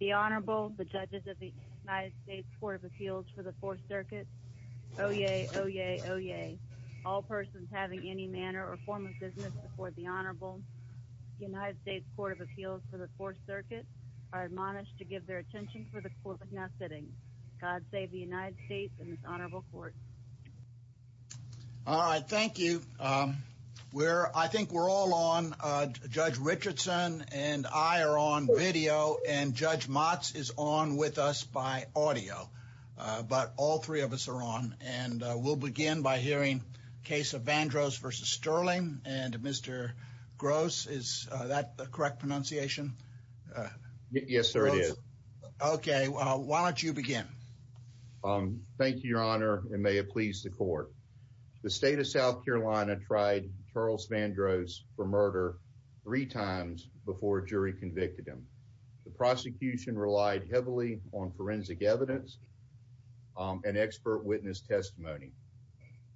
The Honorable, the Judges of the United States Court of Appeals for the 4th Circuit, Oyez, Oyez, Oyez. All persons having any manner or form of business before the Honorable, the United States Court of Appeals for the 4th Circuit, are admonished to give their attention for the court is now sitting. God save the United States and this Honorable Court. All right. Thank you. We're, I think we're all on. Judge Richardson and I are on video and Judge Motz is on with us by audio. But all three of us are on and we'll begin by hearing case of Vandross v. Stirling. And Mr. Gross, is that the correct pronunciation? Yes, sir. It is. Okay. Well, why don't you begin? Thank you, Your Honor, and may it please the court. The state of South Carolina tried Charles Vandross for murder three times before a jury convicted him. The prosecution relied heavily on forensic evidence and expert witness testimony.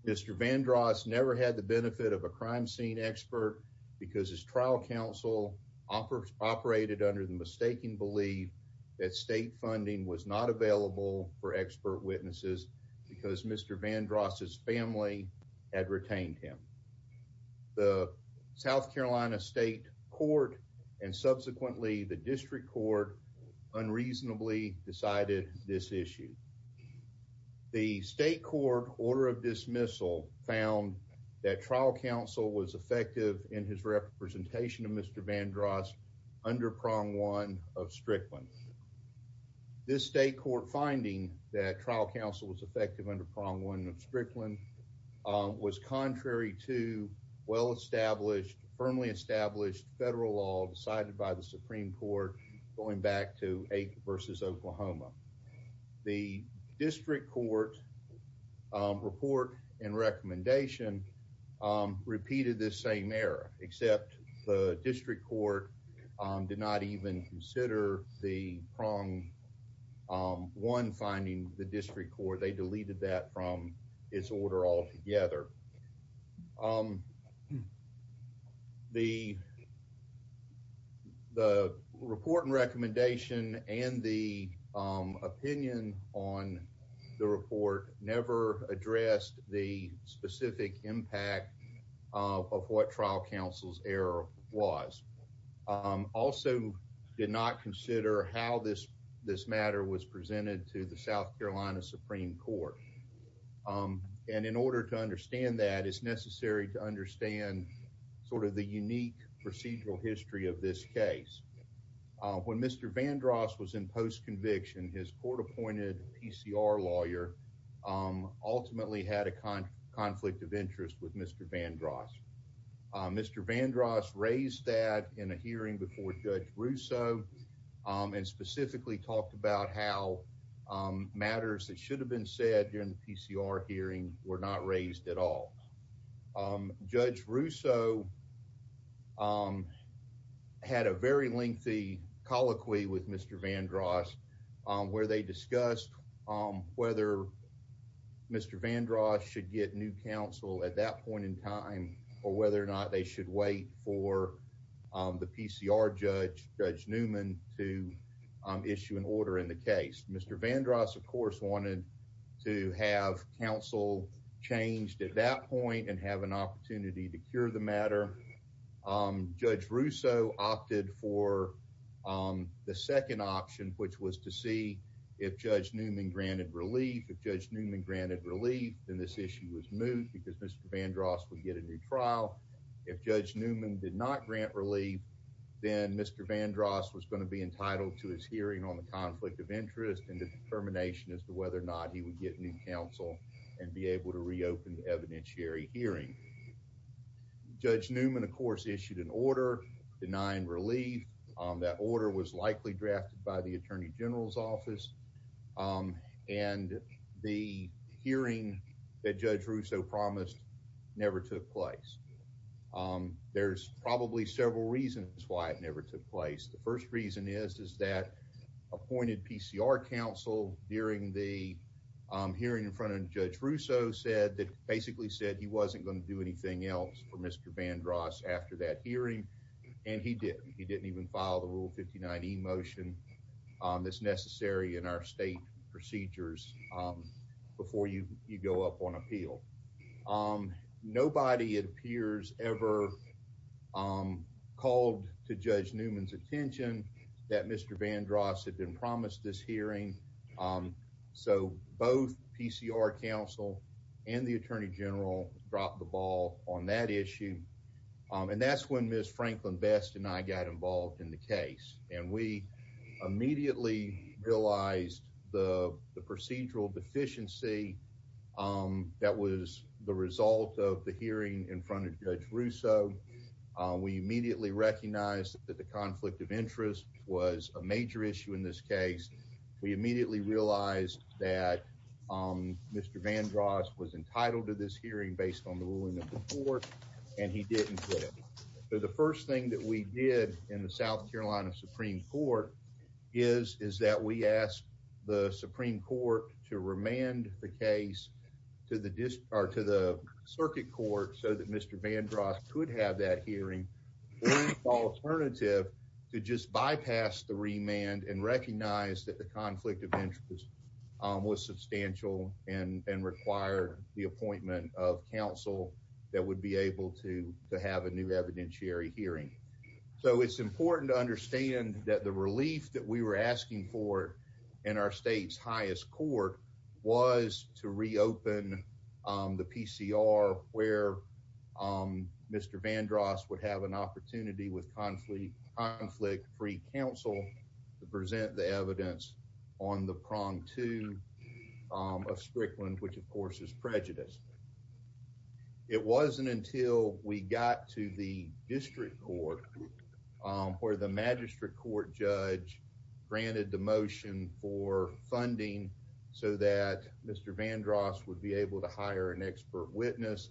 Mr. Vandross never had the benefit of a crime scene expert because his trial counsel operated under the mistaken belief that state funding was not available for expert witnesses because Mr. Vandross's family had retained him. The South Carolina State Court and subsequently the District Court unreasonably decided this issue. The state court order of dismissal found that trial counsel was effective in his representation of Mr. Vandross under prong one of Strickland. This state court finding that trial counsel was effective under prong one of Strickland was contrary to well-established, firmly established federal law decided by the Supreme Court going The District Court report and recommendation repeated this same error, except the District Court did not even consider the prong one finding the District Court. They deleted that from its order altogether. However, the report and recommendation and the opinion on the report never addressed the specific impact of what trial counsel's error was. Also did not consider how this matter was presented to the South Carolina Supreme Court. In order to understand that, it's necessary to understand the unique procedural history of this case. When Mr. Vandross was in post-conviction, his court-appointed PCR lawyer ultimately had a conflict of interest with Mr. Vandross. Mr. Vandross raised that in a hearing before Judge Russo and specifically talked about how matters that should have been said during the PCR hearing were not raised at all. Judge Russo had a very lengthy colloquy with Mr. Vandross where they discussed whether Mr. Vandross should get new counsel at that point in time or whether or not they should wait for the PCR judge, Judge Newman, to issue an order in the case. Mr. Vandross, of course, wanted to have counsel changed at that point and have an opportunity to cure the matter. Judge Russo opted for the second option, which was to see if Judge Newman granted relief. If Judge Newman granted relief, then this issue was moved because Mr. Vandross would get a new trial. If Judge Newman did not grant relief, then Mr. Vandross was going to be entitled to his hearing on the conflict of interest and the determination as to whether or not he would get new counsel and be able to reopen the evidentiary hearing. Judge Newman, of course, issued an order denying relief. That order was likely drafted by the Attorney General's office and the hearing that Judge Russo promised never took place. There's probably several reasons why it never took place. The first reason is that appointed PCR counsel during the hearing in front of Judge Russo said that basically said he wasn't going to do anything else for Mr. Vandross after that hearing, and he didn't. He didn't even file the Rule 59e motion that's necessary in our state procedures before you Nobody, it appears, ever called to Judge Newman's attention that Mr. Vandross had been promised this hearing. So both PCR counsel and the Attorney General dropped the ball on that issue. And that's when Ms. Franklin Best and I got involved in the case, and we immediately realized the procedural deficiency that was the result of the hearing in front of Judge Russo. We immediately recognized that the conflict of interest was a major issue in this case. We immediately realized that Mr. Vandross was entitled to this hearing based on the ruling of the court, and he didn't get it. The first thing that we did in the South Carolina Supreme Court is that we asked the Supreme Court to remand the case to the circuit court so that Mr. Vandross could have that hearing as an alternative to just bypass the remand and recognize that the conflict of interest was substantial and required the appointment of counsel that would be able to have a new evidentiary hearing. So it's important to understand that the relief that we were asking for in our state's highest court was to reopen the PCR where Mr. Vandross would have an opportunity with conflict-free counsel to present the evidence on the prong two of Strickland, which of course is prejudice. It wasn't until we got to the district court where the magistrate court judge granted the motion for funding so that Mr. Vandross would be able to hire an expert witness,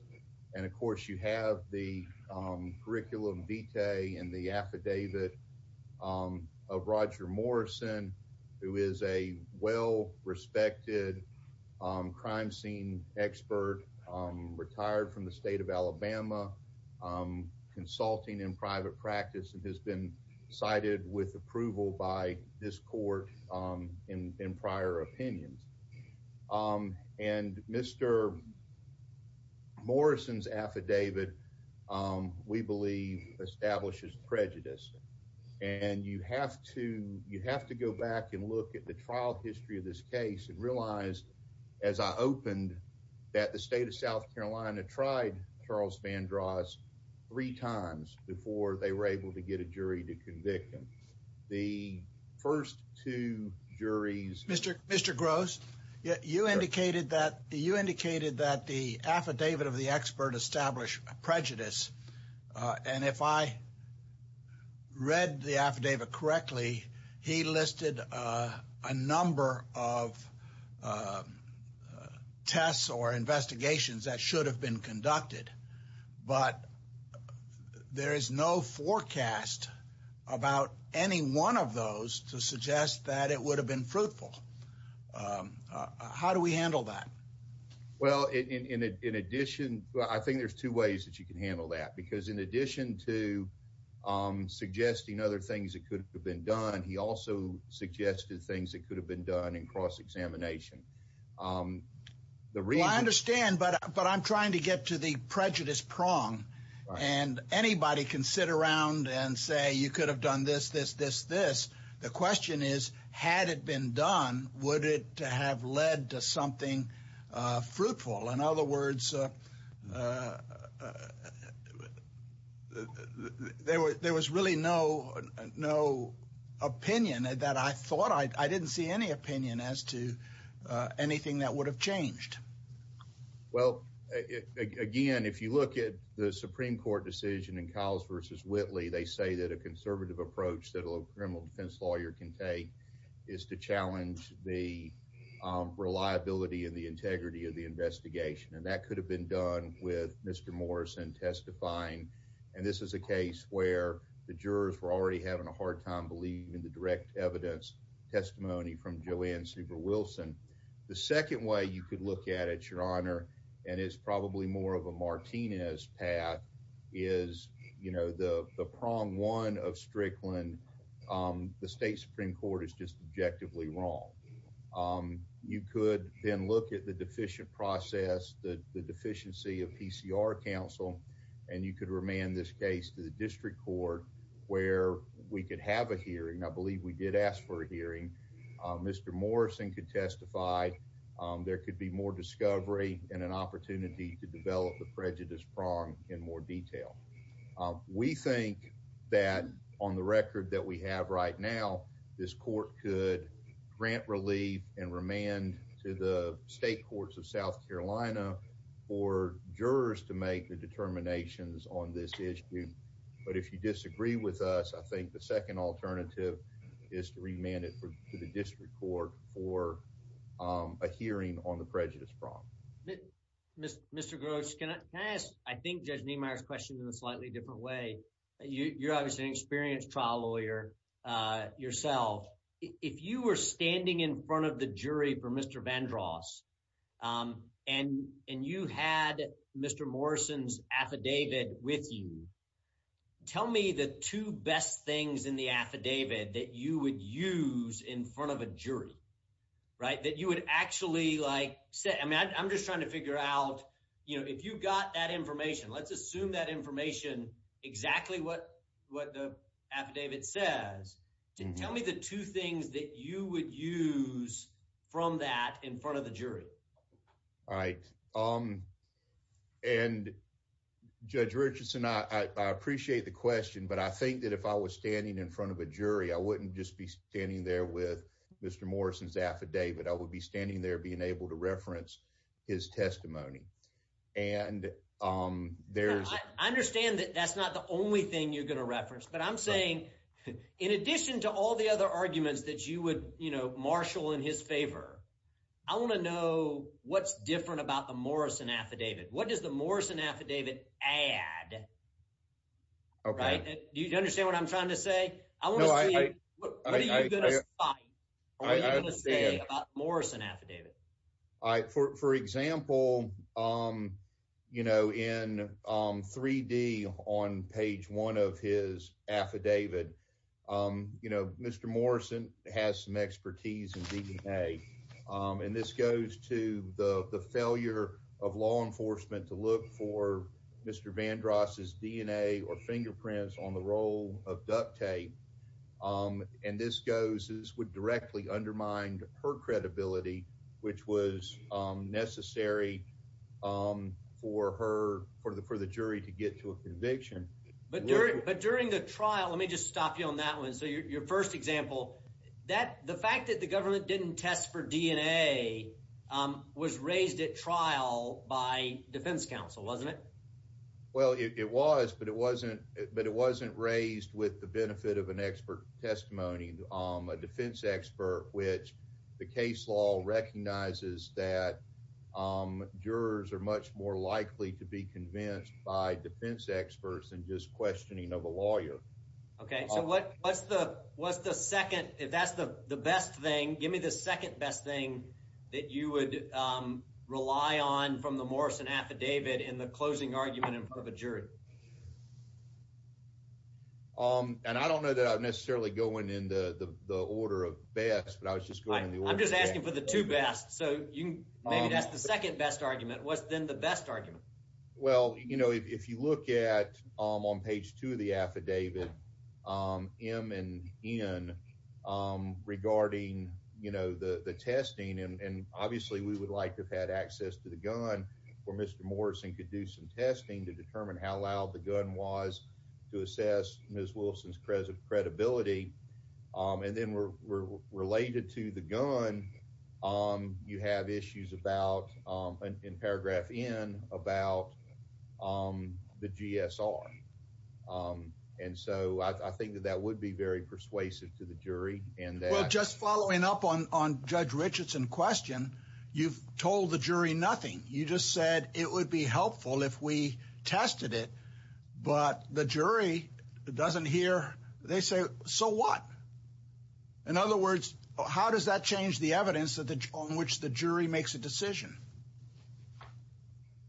and of course you have the curriculum vitae and the affidavit of Roger Morrison, who is a well-respected crime scene expert, retired from the state of Alabama, consulting in private practice, and has been cited with approval by this court in prior opinions. And Mr. Morrison's affidavit, we believe, establishes prejudice. And you have to go back and look at the trial history of this case and realize, as I opened, that the state of South Carolina tried Charles Vandross three times before they were able to get a jury to convict him. The first two juries- Mr. Gross, you indicated that the affidavit of the expert established prejudice. And if I read the affidavit correctly, he listed a number of tests or investigations that should have been conducted, but there is no forecast about any one of those to suggest that it would have been fruitful. How do we handle that? Well, in addition, I think there's two ways that you can handle that, because in addition to suggesting other things that could have been done, he also suggested things that could have been done in cross-examination. The reason- Well, I understand, but I'm trying to get to the prejudice prong. And anybody can sit around and say, you could have done this, this, this, this. The question is, had it been done, would it have led to something fruitful? In other words, there was really no opinion that I thought- I didn't see any opinion as to anything that would have changed. Well, again, if you look at the Supreme Court decision in Kyles v. Whitley, they say that a conservative approach that a criminal defense lawyer can take is to challenge the reliability and the integrity of the investigation, and that could have been done with Mr. Morrison testifying. And this is a case where the jurors were already having a hard time believing in the direct evidence testimony from Joanne Super Wilson. The second way you could look at it, Your Honor, and it's probably more of a Martinez path, is, you know, the prong one of Strickland, the state Supreme Court is just objectively wrong. You could then look at the deficient process, the deficiency of PCR counsel, and you could remand this case to the district court where we could have a hearing. I believe we did ask for a hearing. Mr. Morrison could testify. There could be more discovery and an opportunity to develop the prejudice prong in more detail. We think that on the record that we have right now, this court could grant relief and remand to the state courts of South Carolina for jurors to make the determinations on this issue. But if you disagree with us, I think the second alternative is to remand it to the district court for a hearing on the prejudice prong. Mr. Gross, can I ask, I think, Judge Niemeyer's question in a slightly different way. You're obviously an experienced trial lawyer yourself. If you were standing in front of the jury for Mr. Vandross and you had Mr. Morrison's affidavit with you, tell me the two best things in the affidavit that you would use in front of a jury, right, that you would actually like say, I mean, I'm just trying to figure out, you know, if you've got that information, let's assume that information, exactly what what the affidavit says, tell me the two things that you would use from that in front of the jury. All right. Um, and Judge Richardson, I appreciate the question. But I think that if I was standing in front of a jury, I wouldn't just be standing there with Mr. Morrison's affidavit. I would be standing there being able to reference his testimony. And there's I understand that that's not the only thing you're going to reference. But I'm saying, in addition to all the other arguments that you would, you know, marshal in his favor, I want to know what's different about the Morrison affidavit. What does the Morrison affidavit add? Right. Do you understand what I'm trying to say? I want to say, what are you going to say about the Morrison affidavit? For example, you know, in 3D on page one of his affidavit, you know, Mr. Morrison has some expertise in DNA. And this goes to the failure of law enforcement to look for Mr. Vandross's DNA or fingerprints on the roll of duct tape. And this goes, this would directly undermine her credibility, which was necessary for her for the for the jury to get to a conviction. But during the trial, let me just stop you on that one. So your first example, that the fact that the government didn't test for DNA was raised at trial by defense counsel, wasn't it? Well, it was, but it wasn't, but it wasn't raised with the benefit of an expert testimony, a defense expert, which the case law recognizes that jurors are much more likely to be convinced by defense experts and just questioning of a lawyer. Okay, so what, what's the, what's the second, if that's the best thing, give me the second best thing that you would rely on from the Morrison affidavit in the closing argument in front of a jury? And I don't know that I'm necessarily going in the order of best, but I was just going in the order of best. I'm just asking for the two best. So maybe that's the second best argument. What's then the best argument? Well, you know, if you look at on page two of the affidavit, M and N regarding, you know, the testing, and obviously we would like to have had access to the gun where Mr. Morrison could do some testing to determine how loud the gun was to assess Ms. Wilson's credibility. And then we're, we're related to the gun. You have issues about in paragraph N about the GSR. And so I think that that would be very persuasive to the jury. And just following up on, on judge Richardson question, you've told the jury nothing. You just said it would be helpful if we tested it, but the jury doesn't hear. They say, so what? In other words, how does that change the evidence that the, on which the jury makes a decision?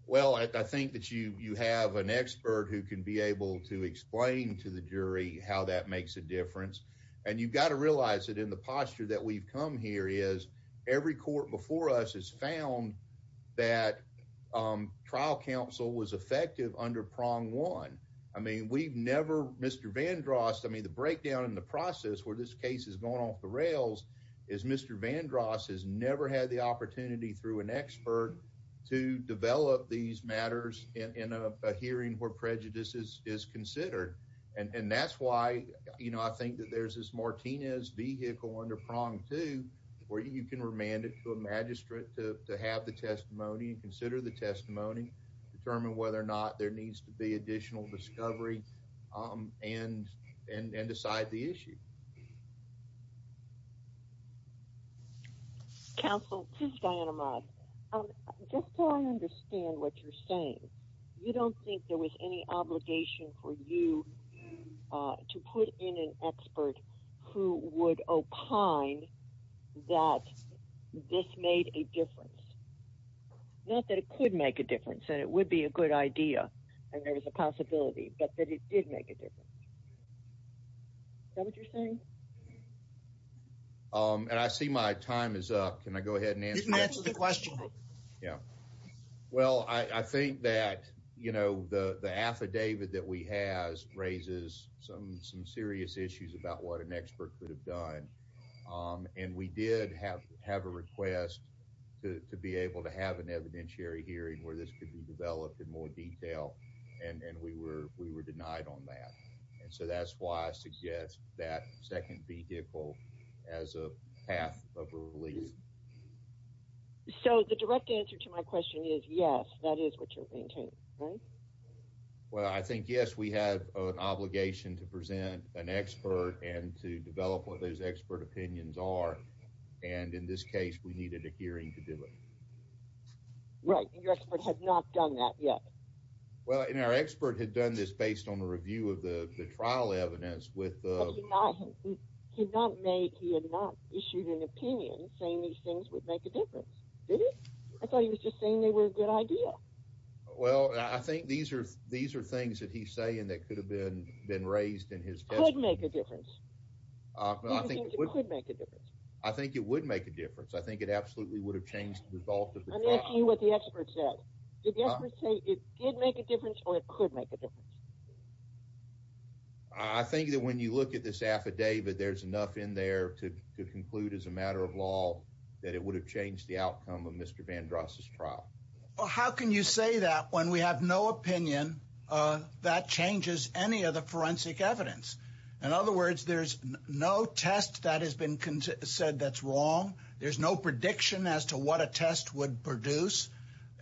Well, I think that you, you have an expert who can be able to explain to the jury how that makes a difference. And you've got to realize that in the posture that we've come here is every court before us has found that trial counsel was effective under prong one. I mean, we've never, Mr. Vandross, I mean, the breakdown in the process where this case is going off the rails is Mr. Vandross has never had the opportunity through an expert to develop these matters in a hearing where prejudices is considered. And that's why, you know, I think that there's this Martinez vehicle under prong two, where you can remand it to a magistrate to have the testimony and consider the testimony determine whether or not there needs to be additional discovery and, and, and decide the issue. Counsel, this is Diana Mott. Just so I understand what you're saying. You don't think there was any obligation for you to put in an expert who would opine that this made a difference? Not that it could make a difference, that it would be a good idea. And there was a possibility, but that it did make a difference. Is that what you're saying? And I see my time is up. Can I go ahead and answer the question? Yeah. Well, I think that, you know, the affidavit that we have raises some serious issues about what an expert could have done. And we did have, have a request to be able to have an evidentiary hearing where this could be developed in more detail. And we were, we were denied on that. And so that's why I suggest that second vehicle as a path of relief. So the direct answer to my question is yes, that is what you're thinking, right? Well, I think yes, we have an obligation to present an expert and to develop what those expert opinions are. And in this case, we needed a hearing to do it. Right. And your expert has not done that yet. Well, and our expert had done this based on the review of the trial evidence with the He had not made, he had not issued an opinion saying these things would make a difference. Did he? I thought he was just saying they were a good idea. Well, I think these are, these are things that he's saying that could have been been raised in his could make a difference. I think it would make a difference. I think it would make a difference. I think it absolutely would have changed the result of what the experts said. Did the experts say it did make a difference or it could make a difference? I think that when you look at this affidavit, there's enough in there to conclude as a matter of law that it would have changed the outcome of Mr. Vandross's trial. Well, how can you say that when we have no opinion that changes any of the forensic evidence? In other words, there's no test that has been said that's wrong. There's no prediction as to what a test would produce.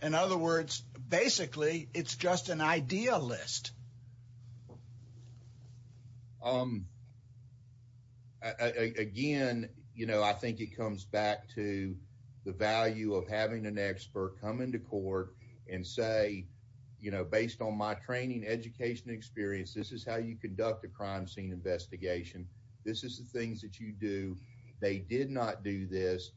In other words, basically, it's just an idea list. Um, again, you know, I think it comes back to the value of having an expert come into court and say, you know, based on my training, education experience, this is how you conduct a crime scene investigation. This is the things that you do. They did not do this.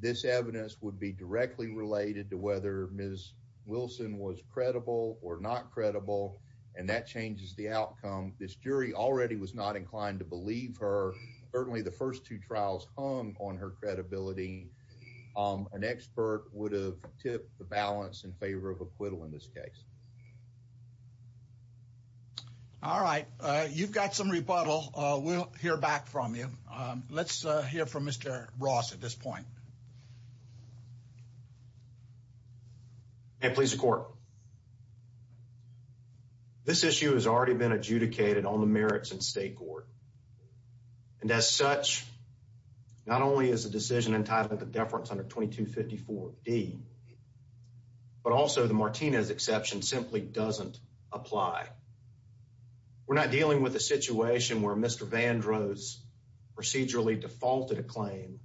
This evidence would be directly related to whether Ms. Wilson was credible or not credible, and that changes the outcome. This jury already was not inclined to believe her. Certainly, the first two trials hung on her credibility. An expert would have tipped the balance in favor of acquittal in this case. All right. You've got some rebuttal. We'll hear back from you. Let's hear from Mr. Ross at this point. May it please the court. This issue has already been adjudicated on the merits in state court, and as such, not only is the decision entitled to deference under 2254D, but also the Martinez exception simply doesn't apply. We're not dealing with a situation where Mr. Vandro's procedurally defaulted a claim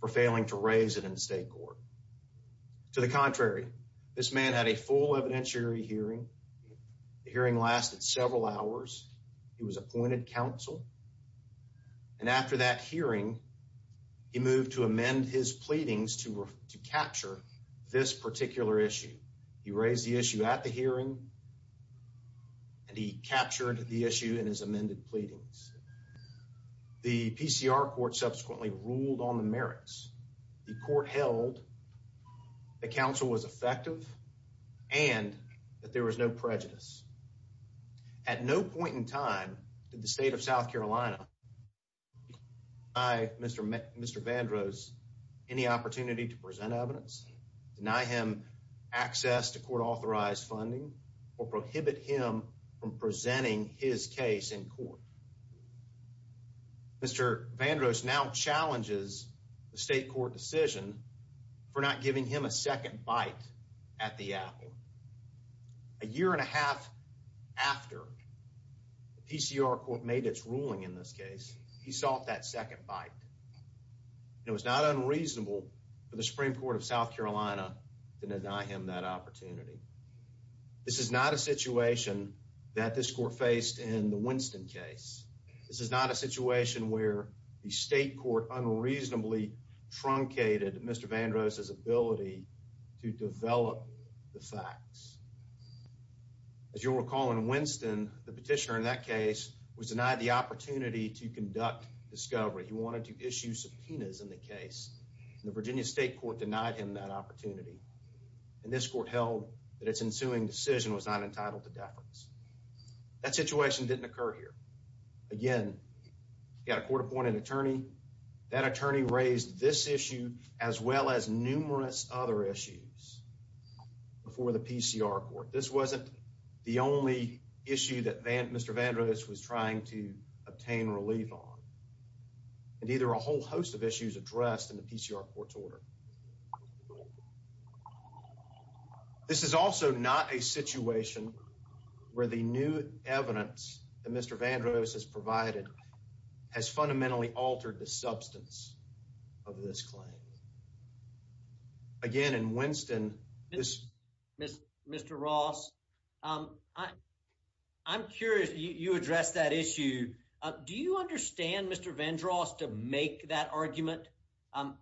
for failing to raise it in state court. To the contrary, this man had a full evidentiary hearing. The hearing lasted several hours. He was appointed counsel, and after that hearing, he moved to amend his pleadings to capture this particular issue. He raised the issue at the hearing, and he captured the issue in his amended pleadings. The PCR court subsequently ruled on the merits. The court held that counsel was effective and that there was no prejudice. At no point in time did the state of South Carolina deny Mr. Vandro's any opportunity to present evidence, deny him access to court authorized funding, or prohibit him from presenting his case in court. Mr. Vandro's now challenges the state court decision for not giving him a second bite at the apple. A year and a half after the PCR court made its ruling in this case, he sought that second bite. It was not unreasonable for the Supreme Court of South Carolina to deny him that opportunity. This is not a situation that this court faced in the Winston case. This is not a situation where the state court unreasonably truncated Mr. Vandro's ability to develop the facts. As you'll recall in Winston, the petitioner in that case was denied the opportunity to conduct discovery. He wanted to issue subpoenas in the case, and the Virginia state court denied him that opportunity. And this court held that its ensuing decision was not entitled to deference. That situation didn't occur here. Again, you've got a court appointed attorney. That attorney raised this issue as well as numerous other issues before the PCR court. This wasn't the only issue that Mr. Vandro's was trying to obtain relief on. And either a whole host of issues addressed in the PCR court's order. This is also not a situation where the new evidence that Mr. Vandro's has provided has fundamentally altered the substance of this claim. Again, in Winston, this... Mr. Ross, I'm curious. You addressed that issue. Do you understand Mr. Vandro's to make that argument?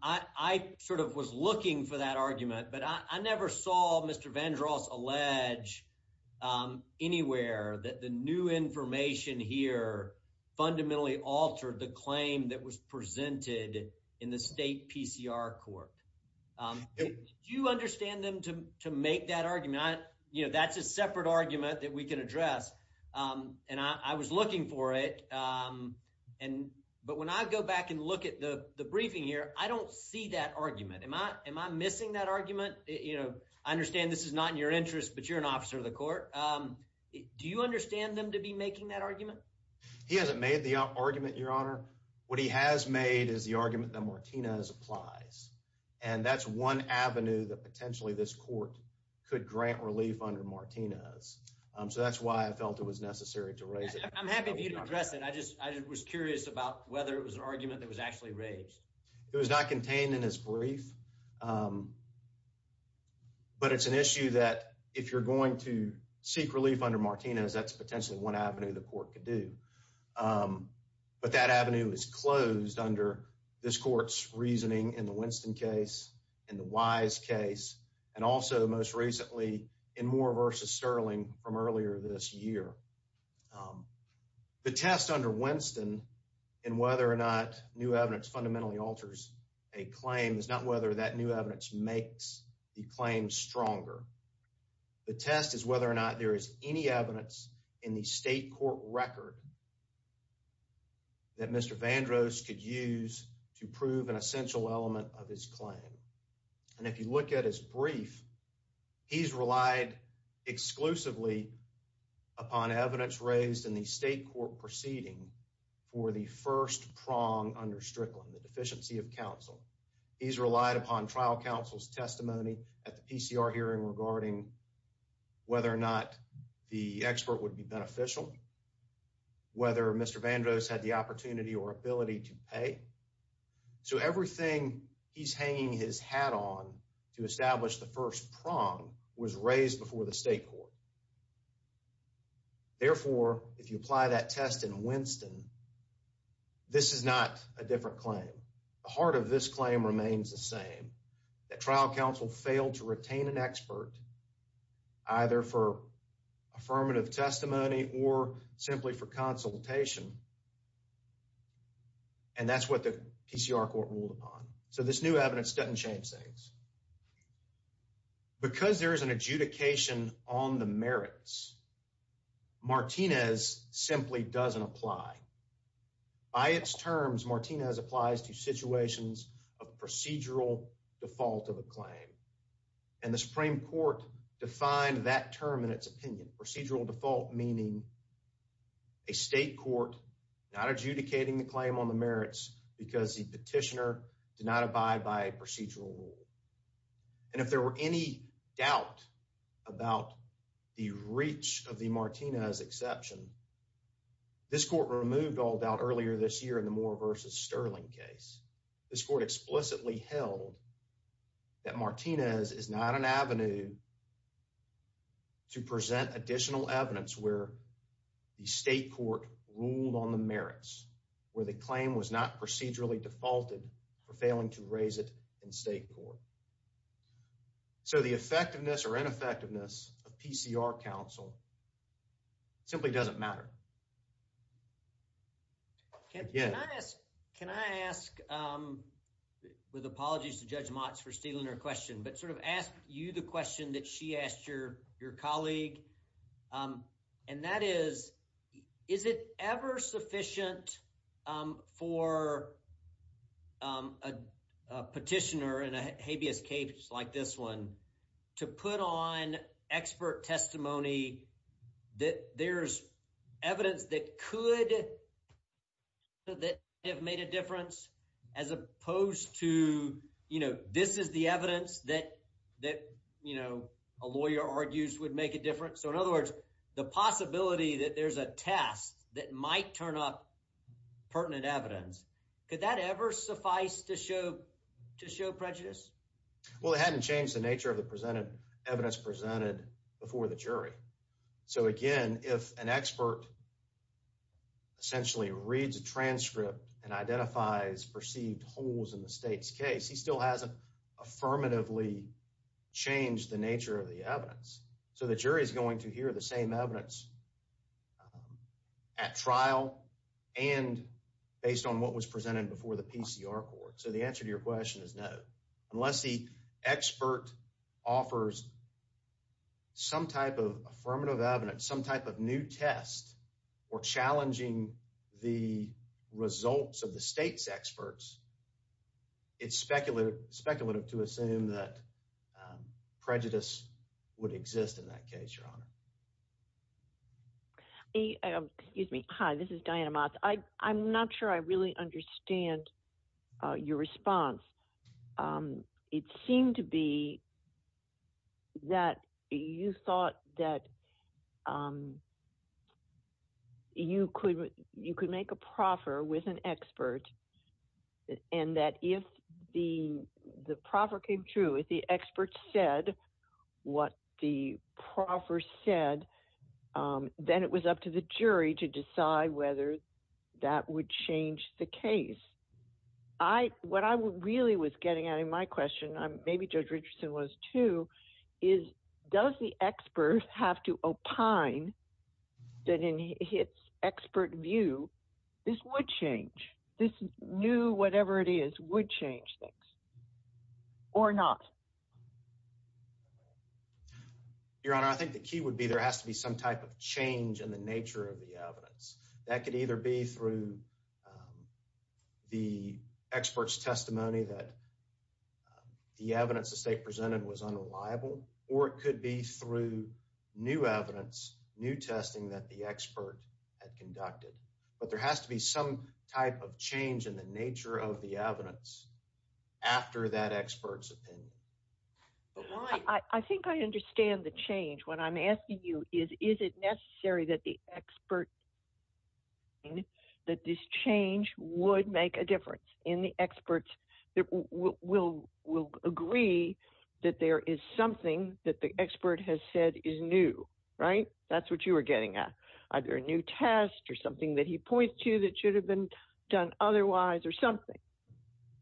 I sort of was looking for that argument, but I never saw Mr. Vandro's allege anywhere that the new information here fundamentally altered the claim that was presented in the state PCR court. Do you understand them to make that argument? That's a separate argument that we can address, and I was looking for it. But when I go back and look at the briefing here, I don't see that argument. Am I missing that argument? I understand this is not in your interest, but you're an officer of the court. Do you understand them to be making that argument? He hasn't made the argument, Your Honor. What he has made is the argument that Martinez applies. And that's one avenue that potentially this court could grant relief under Martinez. So that's why I felt it was necessary to raise it. I'm happy for you to address it. I just was curious about whether it was an argument that was actually raised. It was not contained in his brief. But it's an issue that if you're going to seek relief under Martinez, that's potentially one avenue the court could do. But that avenue is closed under this court's reasoning in the Winston case, in the Wise case, and also most recently in Moore v. Sterling from earlier this year. The test under Winston in whether or not new evidence fundamentally alters a claim is not whether that new evidence makes the claim stronger. The test is whether or not there is any evidence in the state court record that Mr. Vandross could use to prove an essential element of his claim. And if you look at his brief, he's relied exclusively upon evidence raised in the state court proceeding for the first prong under Strickland, the deficiency of counsel. He's relied upon trial counsel's testimony at the PCR hearing regarding whether or not the expert would be beneficial, whether Mr. Vandross had the opportunity or ability to pay. So everything he's hanging his hat on to establish the first prong was raised before the state court. Therefore, if you apply that test in Winston, this is not a different claim. The heart of this claim remains the same, that trial counsel failed to retain an expert either for affirmative testimony or simply for consultation. And that's what the PCR court ruled upon. So this new evidence doesn't change things. Because there is an adjudication on the merits, Martinez simply doesn't apply. By its terms, Martinez applies to situations of procedural default of a claim. And the Supreme Court defined that term in its opinion, procedural default, meaning a state court not adjudicating the claim on the merits because the petitioner did not abide by procedural rule. And if there were any doubt about the reach of the Martinez exception, this court removed all doubt earlier this year in the Moore v. Sterling case. This court explicitly held that Martinez is not an avenue to present additional evidence where the state court ruled on the merits, where the claim was not procedurally defaulted for failing to raise it in state court. So the effectiveness or ineffectiveness of PCR counsel simply doesn't matter. Can I ask, with apologies to Judge Motz for stealing her question, but sort of ask you the question that she asked your colleague. And that is, is it ever sufficient for a petitioner in a habeas case like this one to put on expert testimony that there's evidence that could have made a difference as opposed to, you So in other words, the possibility that there's a test that might turn up pertinent evidence, could that ever suffice to show prejudice? Well, it hadn't changed the nature of the evidence presented before the jury. So again, if an expert essentially reads a transcript and identifies perceived holes in the state's case, he still hasn't affirmatively changed the nature of the evidence. So the jury is going to hear the same evidence at trial and based on what was presented before the PCR court. So the answer to your question is no. Unless the expert offers some type of affirmative evidence, some type of new test or challenging the results of the state's experts. It's speculative to assume that prejudice would exist in that case, Your Honor. Excuse me. Hi, this is Diana Motz. I'm not sure I really understand your response. It seemed to be that you thought that you could make a proffer with an expert and that if the proffer came true, if the expert said what the proffer said, then it was up to the jury to decide whether that would change the case. What I really was getting at in my question, maybe Judge Richardson was too, is does the expert have to opine that in his expert view, this would change, this new whatever it is would change things or not? Your Honor, I think the key would be there has to be some type of change in the nature of the evidence. That could either be through the expert's testimony that the evidence the state presented was unreliable or it could be through new evidence, new testing that the expert had conducted. But there has to be some type of change in the nature of the evidence after that expert's opinion. I think I understand the change. What I'm asking you is, is it necessary that the expert that this change would make a difference in the experts that will agree that there is something that the expert has said is new, right? That's what you were getting at. Either a new test or something that he points to that should have been done otherwise or something.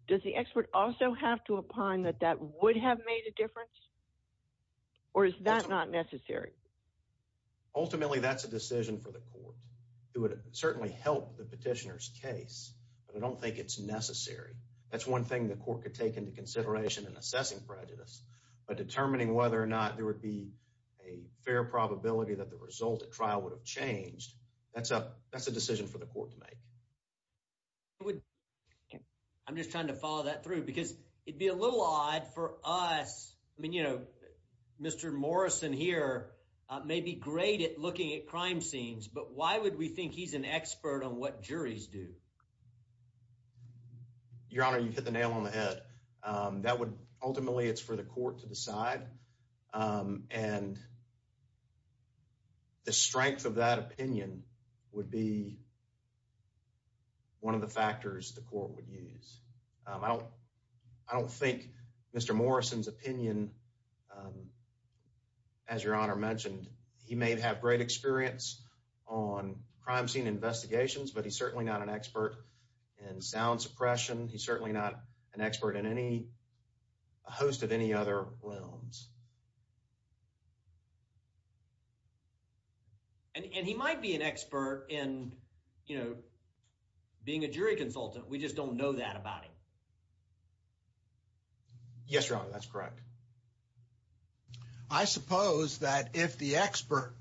Does the expert also have to opine that that would have made a difference? Or is that not necessary? Ultimately, that's a decision for the court. It would certainly help the petitioner's case, but I don't think it's necessary. That's one thing the court could take into consideration in assessing prejudice, but determining whether or not there would be a fair probability that the result at trial would have changed, that's a decision for the court to make. I'm just trying to follow that through because it'd be a little odd for us. I mean, you know, Mr. Morrison here may be great at looking at crime scenes, but why would we think he's an expert on what juries do? Your Honor, you hit the nail on the head. Ultimately, it's for the court to decide, and the strength of that opinion would be one of the factors the court would use. I don't think Mr. Morrison's opinion, as Your Honor mentioned, he may have great experience on crime scene investigations, but he's certainly not an expert in sound suppression. He's certainly not an expert in any host of any other realms. And he might be an expert in, you know, being a jury consultant. We just don't know that about him. Yes, Your Honor, that's correct. I suppose that if the expert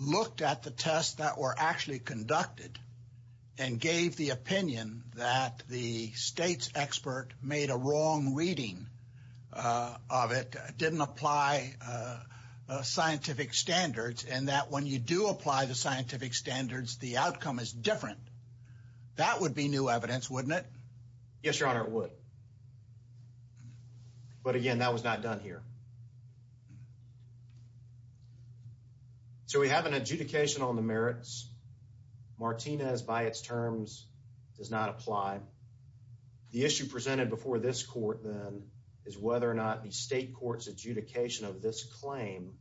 looked at the tests that were actually conducted and gave the opinion that the state's expert made a wrong reading of it, didn't apply scientific standards, and that when you do apply the scientific standards, the outcome is different, that would be new evidence, wouldn't it? Yes, Your Honor, it would. But again, that was not done here. So we have an adjudication on the merits. Martinez, by its terms, does not apply. The issue presented before this court, then, is whether or not the state court's adjudication of this claim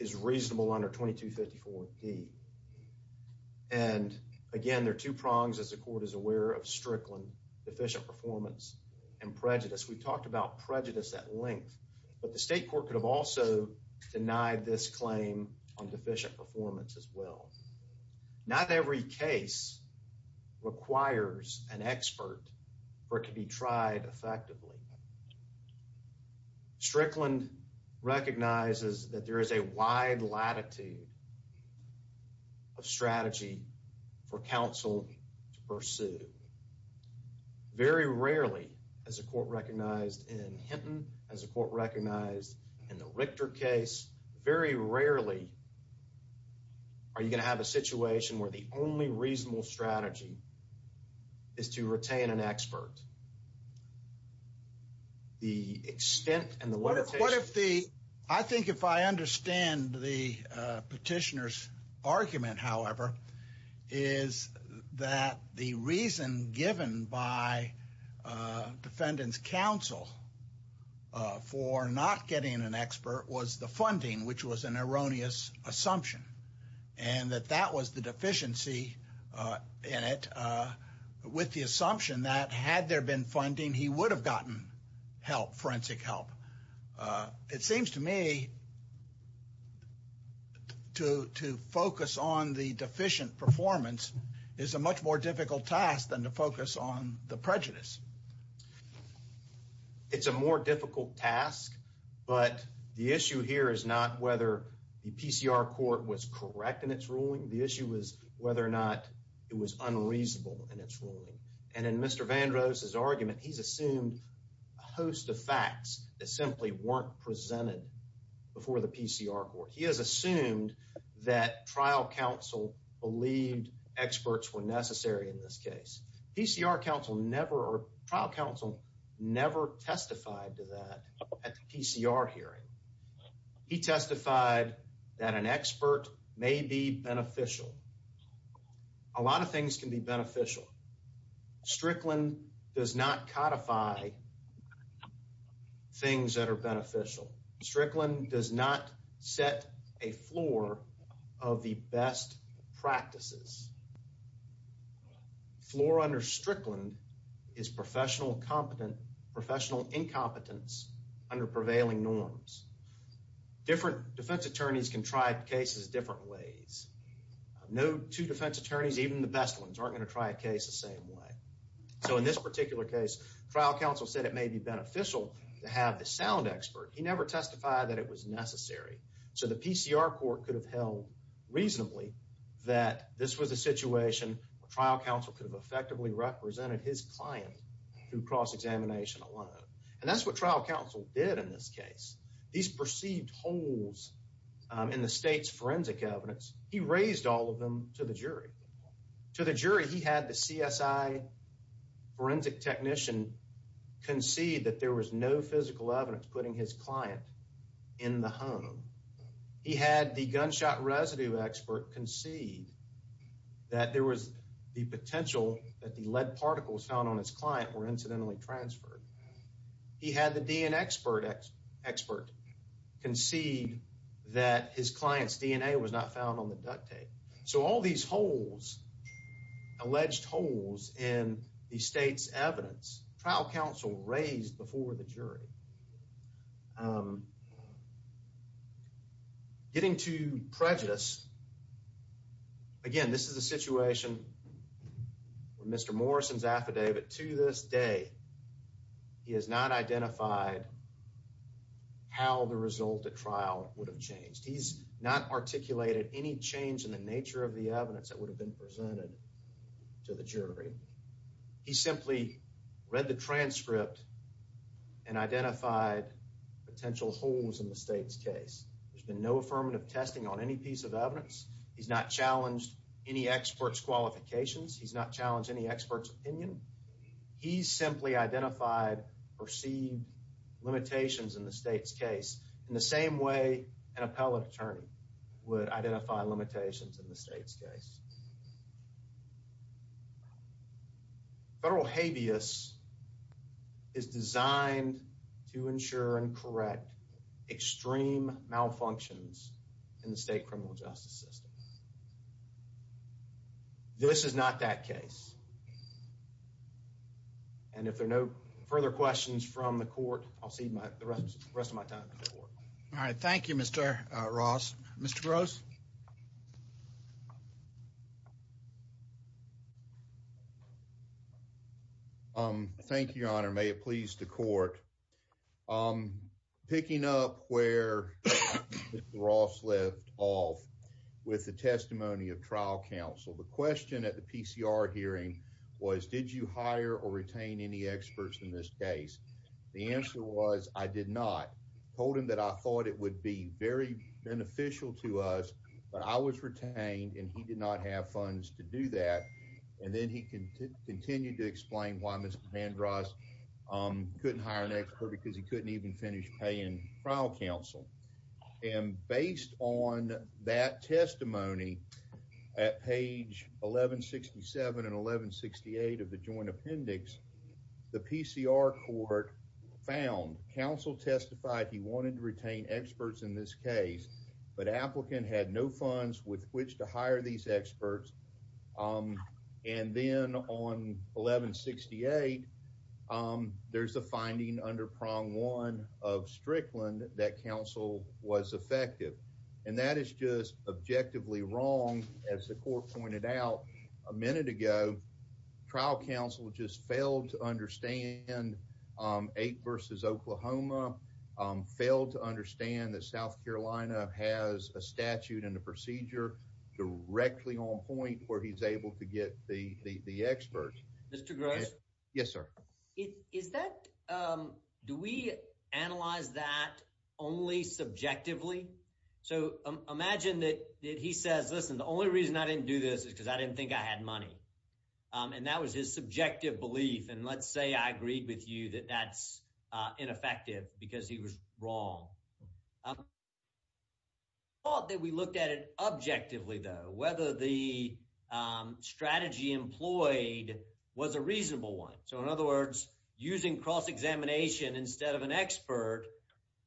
is reasonable under 2254D. And again, there are two prongs, as the court is aware, of Strickland, deficient performance and prejudice. We've talked about prejudice at length, but the state court could have also denied this performance as well. Not every case requires an expert for it to be tried effectively. Strickland recognizes that there is a wide latitude of strategy for counsel to pursue. Very rarely, as the court recognized in Hinton, as the court recognized in the Richter case, very rarely are you going to have a situation where the only reasonable strategy is to retain an expert. The extent and the limitation... I think if I understand the petitioner's argument, however, is that the reason given by defendant's counsel for not getting an expert was the funding, which was an erroneous assumption. And that that was the deficiency in it, with the assumption that had there been funding, he would have gotten help, forensic help. It seems to me to focus on the deficient performance is a much more difficult task than to focus on the prejudice. It's a more difficult task, but the issue here is not whether the PCR court was correct in its ruling. The issue was whether or not it was unreasonable in its ruling. And in Mr. Vandross's argument, he's assumed a host of facts that simply weren't presented before the PCR court. He has assumed that trial counsel believed experts were necessary in this case. PCR counsel never or trial counsel never testified to that at the PCR hearing. He testified that an expert may be beneficial. A lot of things can be beneficial. Strickland does not codify things that are beneficial. Strickland does not set a floor of the best practices. Floor under Strickland is professional incompetence under prevailing norms. Different defense attorneys can try cases different ways. No two defense attorneys, even the best ones, aren't going to try a case the same way. So in this particular case, trial counsel said it may be beneficial to have the sound expert. He never testified that it was necessary. So the PCR court could have held reasonably that this was a situation where trial counsel could have effectively represented his client through cross-examination alone. And that's what trial counsel did in this case. These perceived holes in the state's forensic evidence, he raised all of them to the jury. To the jury, he had the CSI forensic technician concede that there was no physical evidence putting his client in the home. He had the gunshot residue expert concede that there was the potential that the lead particles found on his client were incidentally transferred. He had the DNA expert concede that his client's DNA was not found on the duct tape. So all these holes, alleged holes in the state's evidence, trial counsel raised before the jury. Getting to prejudice, again, this is a situation where Mr. Morrison's affidavit. To this day, he has not identified how the result at trial would have changed. He's not articulated any change in the nature of the evidence that would have been presented to the jury. He simply read the transcript and identified potential holes in the state's case. There's been no affirmative testing on any piece of evidence. He's not challenged any expert's qualifications. He's not challenged any expert's opinion. He simply identified perceived limitations in the state's case, in the same way an appellate attorney would identify limitations in the state's case. Federal habeas is designed to ensure and correct extreme malfunctions in the state criminal justice system. This is not that case. And if there are no further questions from the court, I'll cede the rest of my time to the court. All right. Thank you, Mr. Ross. Mr. Gross? Thank you, Your Honor. May it please the court. Picking up where Mr. Ross left off with the testimony of trial counsel, the question at the PCR hearing was, did you hire or retain any experts in this case? The answer was, I did not. Told him that I thought it would be very beneficial to us, but I was retained and he did not have funds to do that. And then he continued to explain why Mr. Ross couldn't hire an expert because he couldn't even finish paying trial counsel. And based on that testimony at page 1167 and 1168 of the joint appendix, the PCR court found counsel testified he wanted to retain experts in this case, but applicant had no funds with which to hire these experts. And then on 1168, there's a finding under prong one of Strickland that counsel was effective. And that is just objectively wrong. As the court pointed out a minute ago, trial counsel just failed to understand 8 v. Oklahoma, failed to understand that South Carolina has a statute and a procedure directly on point where he's able to get the experts. Mr. Gross. Yes, sir. Is that do we analyze that only subjectively? So imagine that he says, listen, the only reason I didn't do this is because I didn't think I had money. And that was his subjective belief. And let's say I agreed with you that that's ineffective because he was wrong. I thought that we looked at it objectively, though, whether the strategy employed was a reasonable one. So in other words, using cross examination instead of an expert,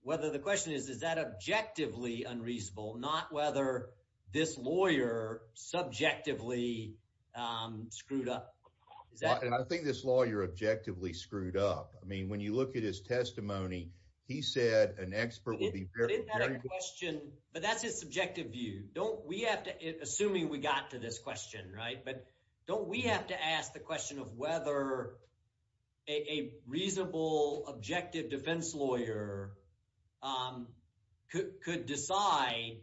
whether the question is, is that objectively unreasonable? Not whether this lawyer subjectively screwed up. And I think this lawyer objectively screwed up. I mean, when you look at his testimony, he said an expert would be very good question. But that's his subjective view. Don't we have to assuming we got to this question. Right. But don't we have to ask the question of whether a reasonable, objective defense lawyer could decide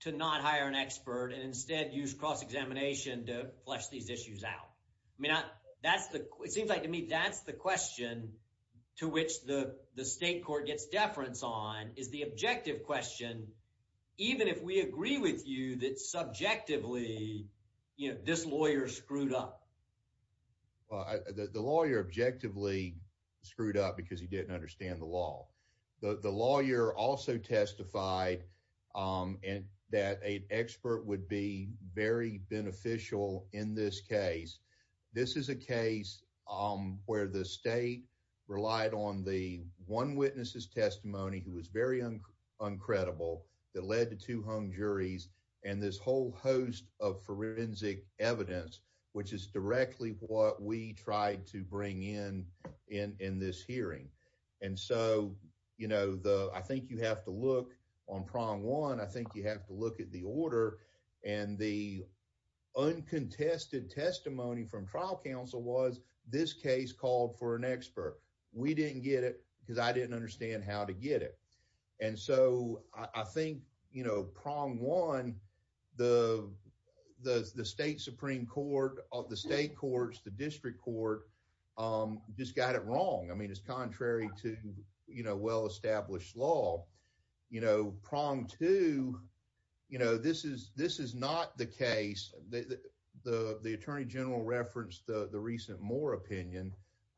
to not hire an expert and instead use cross examination to flesh these issues out. I mean, that's the it seems like to me, that's the question to which the state court gets deference on is the objective question. Even if we agree with you that subjectively this lawyer screwed up. The lawyer objectively screwed up because he didn't understand the law. The lawyer also testified that a expert would be very beneficial in this case. This is a case where the state relied on the one witnesses testimony, who was very uncredible that led to two hung juries and this whole host of forensic evidence, which is directly what we tried to bring in in this hearing. And so, you know, the, I think you have to look on prong one, I think you have to look at the order and the uncontested testimony, from trial counsel was this case called for an expert. We didn't get it because I didn't understand how to get it. And so I think, you know, prong one, the, the, the state Supreme court of the state courts, the district court, just got it wrong. I mean, it's contrary to, you know, well-established law, you know, prong two, you know, this is, this is not the case. The, the, the, the attorney general referenced the recent Moore opinion.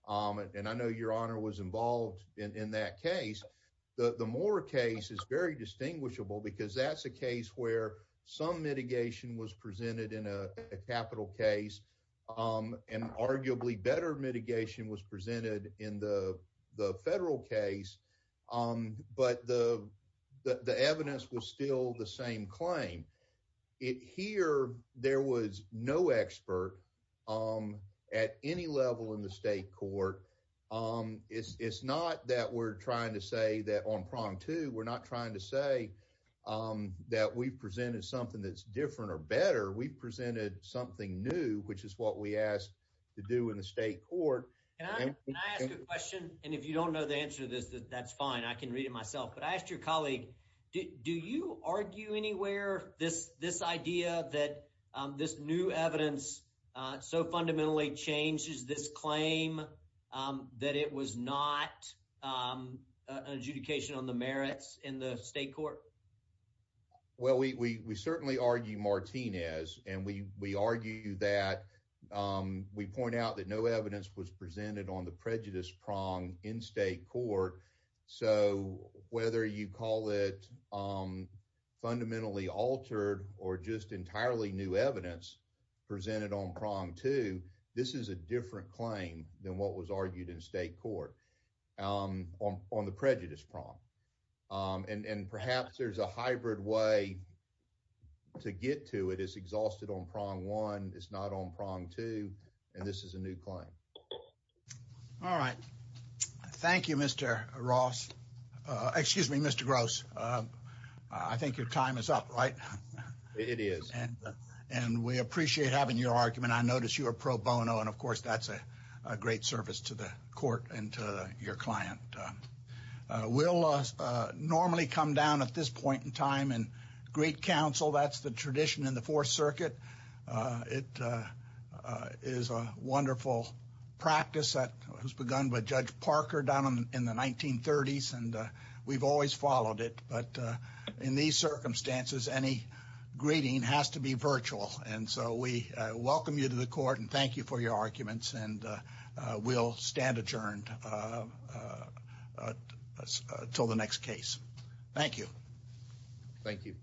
And I know your honor was involved in that case. The Moore case is very distinguishable because that's a case where some mitigation was presented in a capital case. And arguably better mitigation was presented in the federal case. But the, the, the evidence was still the same claim it here. There was no expert at any level in the state court. It's not that we're trying to say that on prong two, we're not trying to say that we presented something that's different or better. We presented something new, which is what we asked to do in the state court. Can I ask a question? And if you don't know the answer to this, that that's fine. I can read it myself, but I asked your colleague, do you argue anywhere? This, this idea that this new evidence so fundamentally changes this claim that it was not an adjudication on the merits in the state court? Well, we, we, we certainly argue Martinez and we, we argue that we point out that no evidence was presented on the prejudice prong in state court. So whether you call it fundamentally altered or just entirely new evidence presented on prong two, this is a different claim than what was argued in state court on, on the prejudice prong. And, and perhaps there's a hybrid way to get to it is exhausted on prong one. It's not on prong two and this is a new claim. All right. Thank you, Mr. Ross. Excuse me, Mr. Gross. I think your time is up, right? It is. And we appreciate having your argument. I noticed you are pro bono and of course that's a great service to the court and to your client. We'll normally come down at this point in time and great council. That's the tradition in the fourth circuit. It is a wonderful practice that was begun by judge Parker down in the 1930s. And we've always followed it. But in these circumstances, any greeting has to be virtual. And so we welcome you to the court and thank you for your arguments. And we'll stand adjourned until the next case. Thank you. Thank you.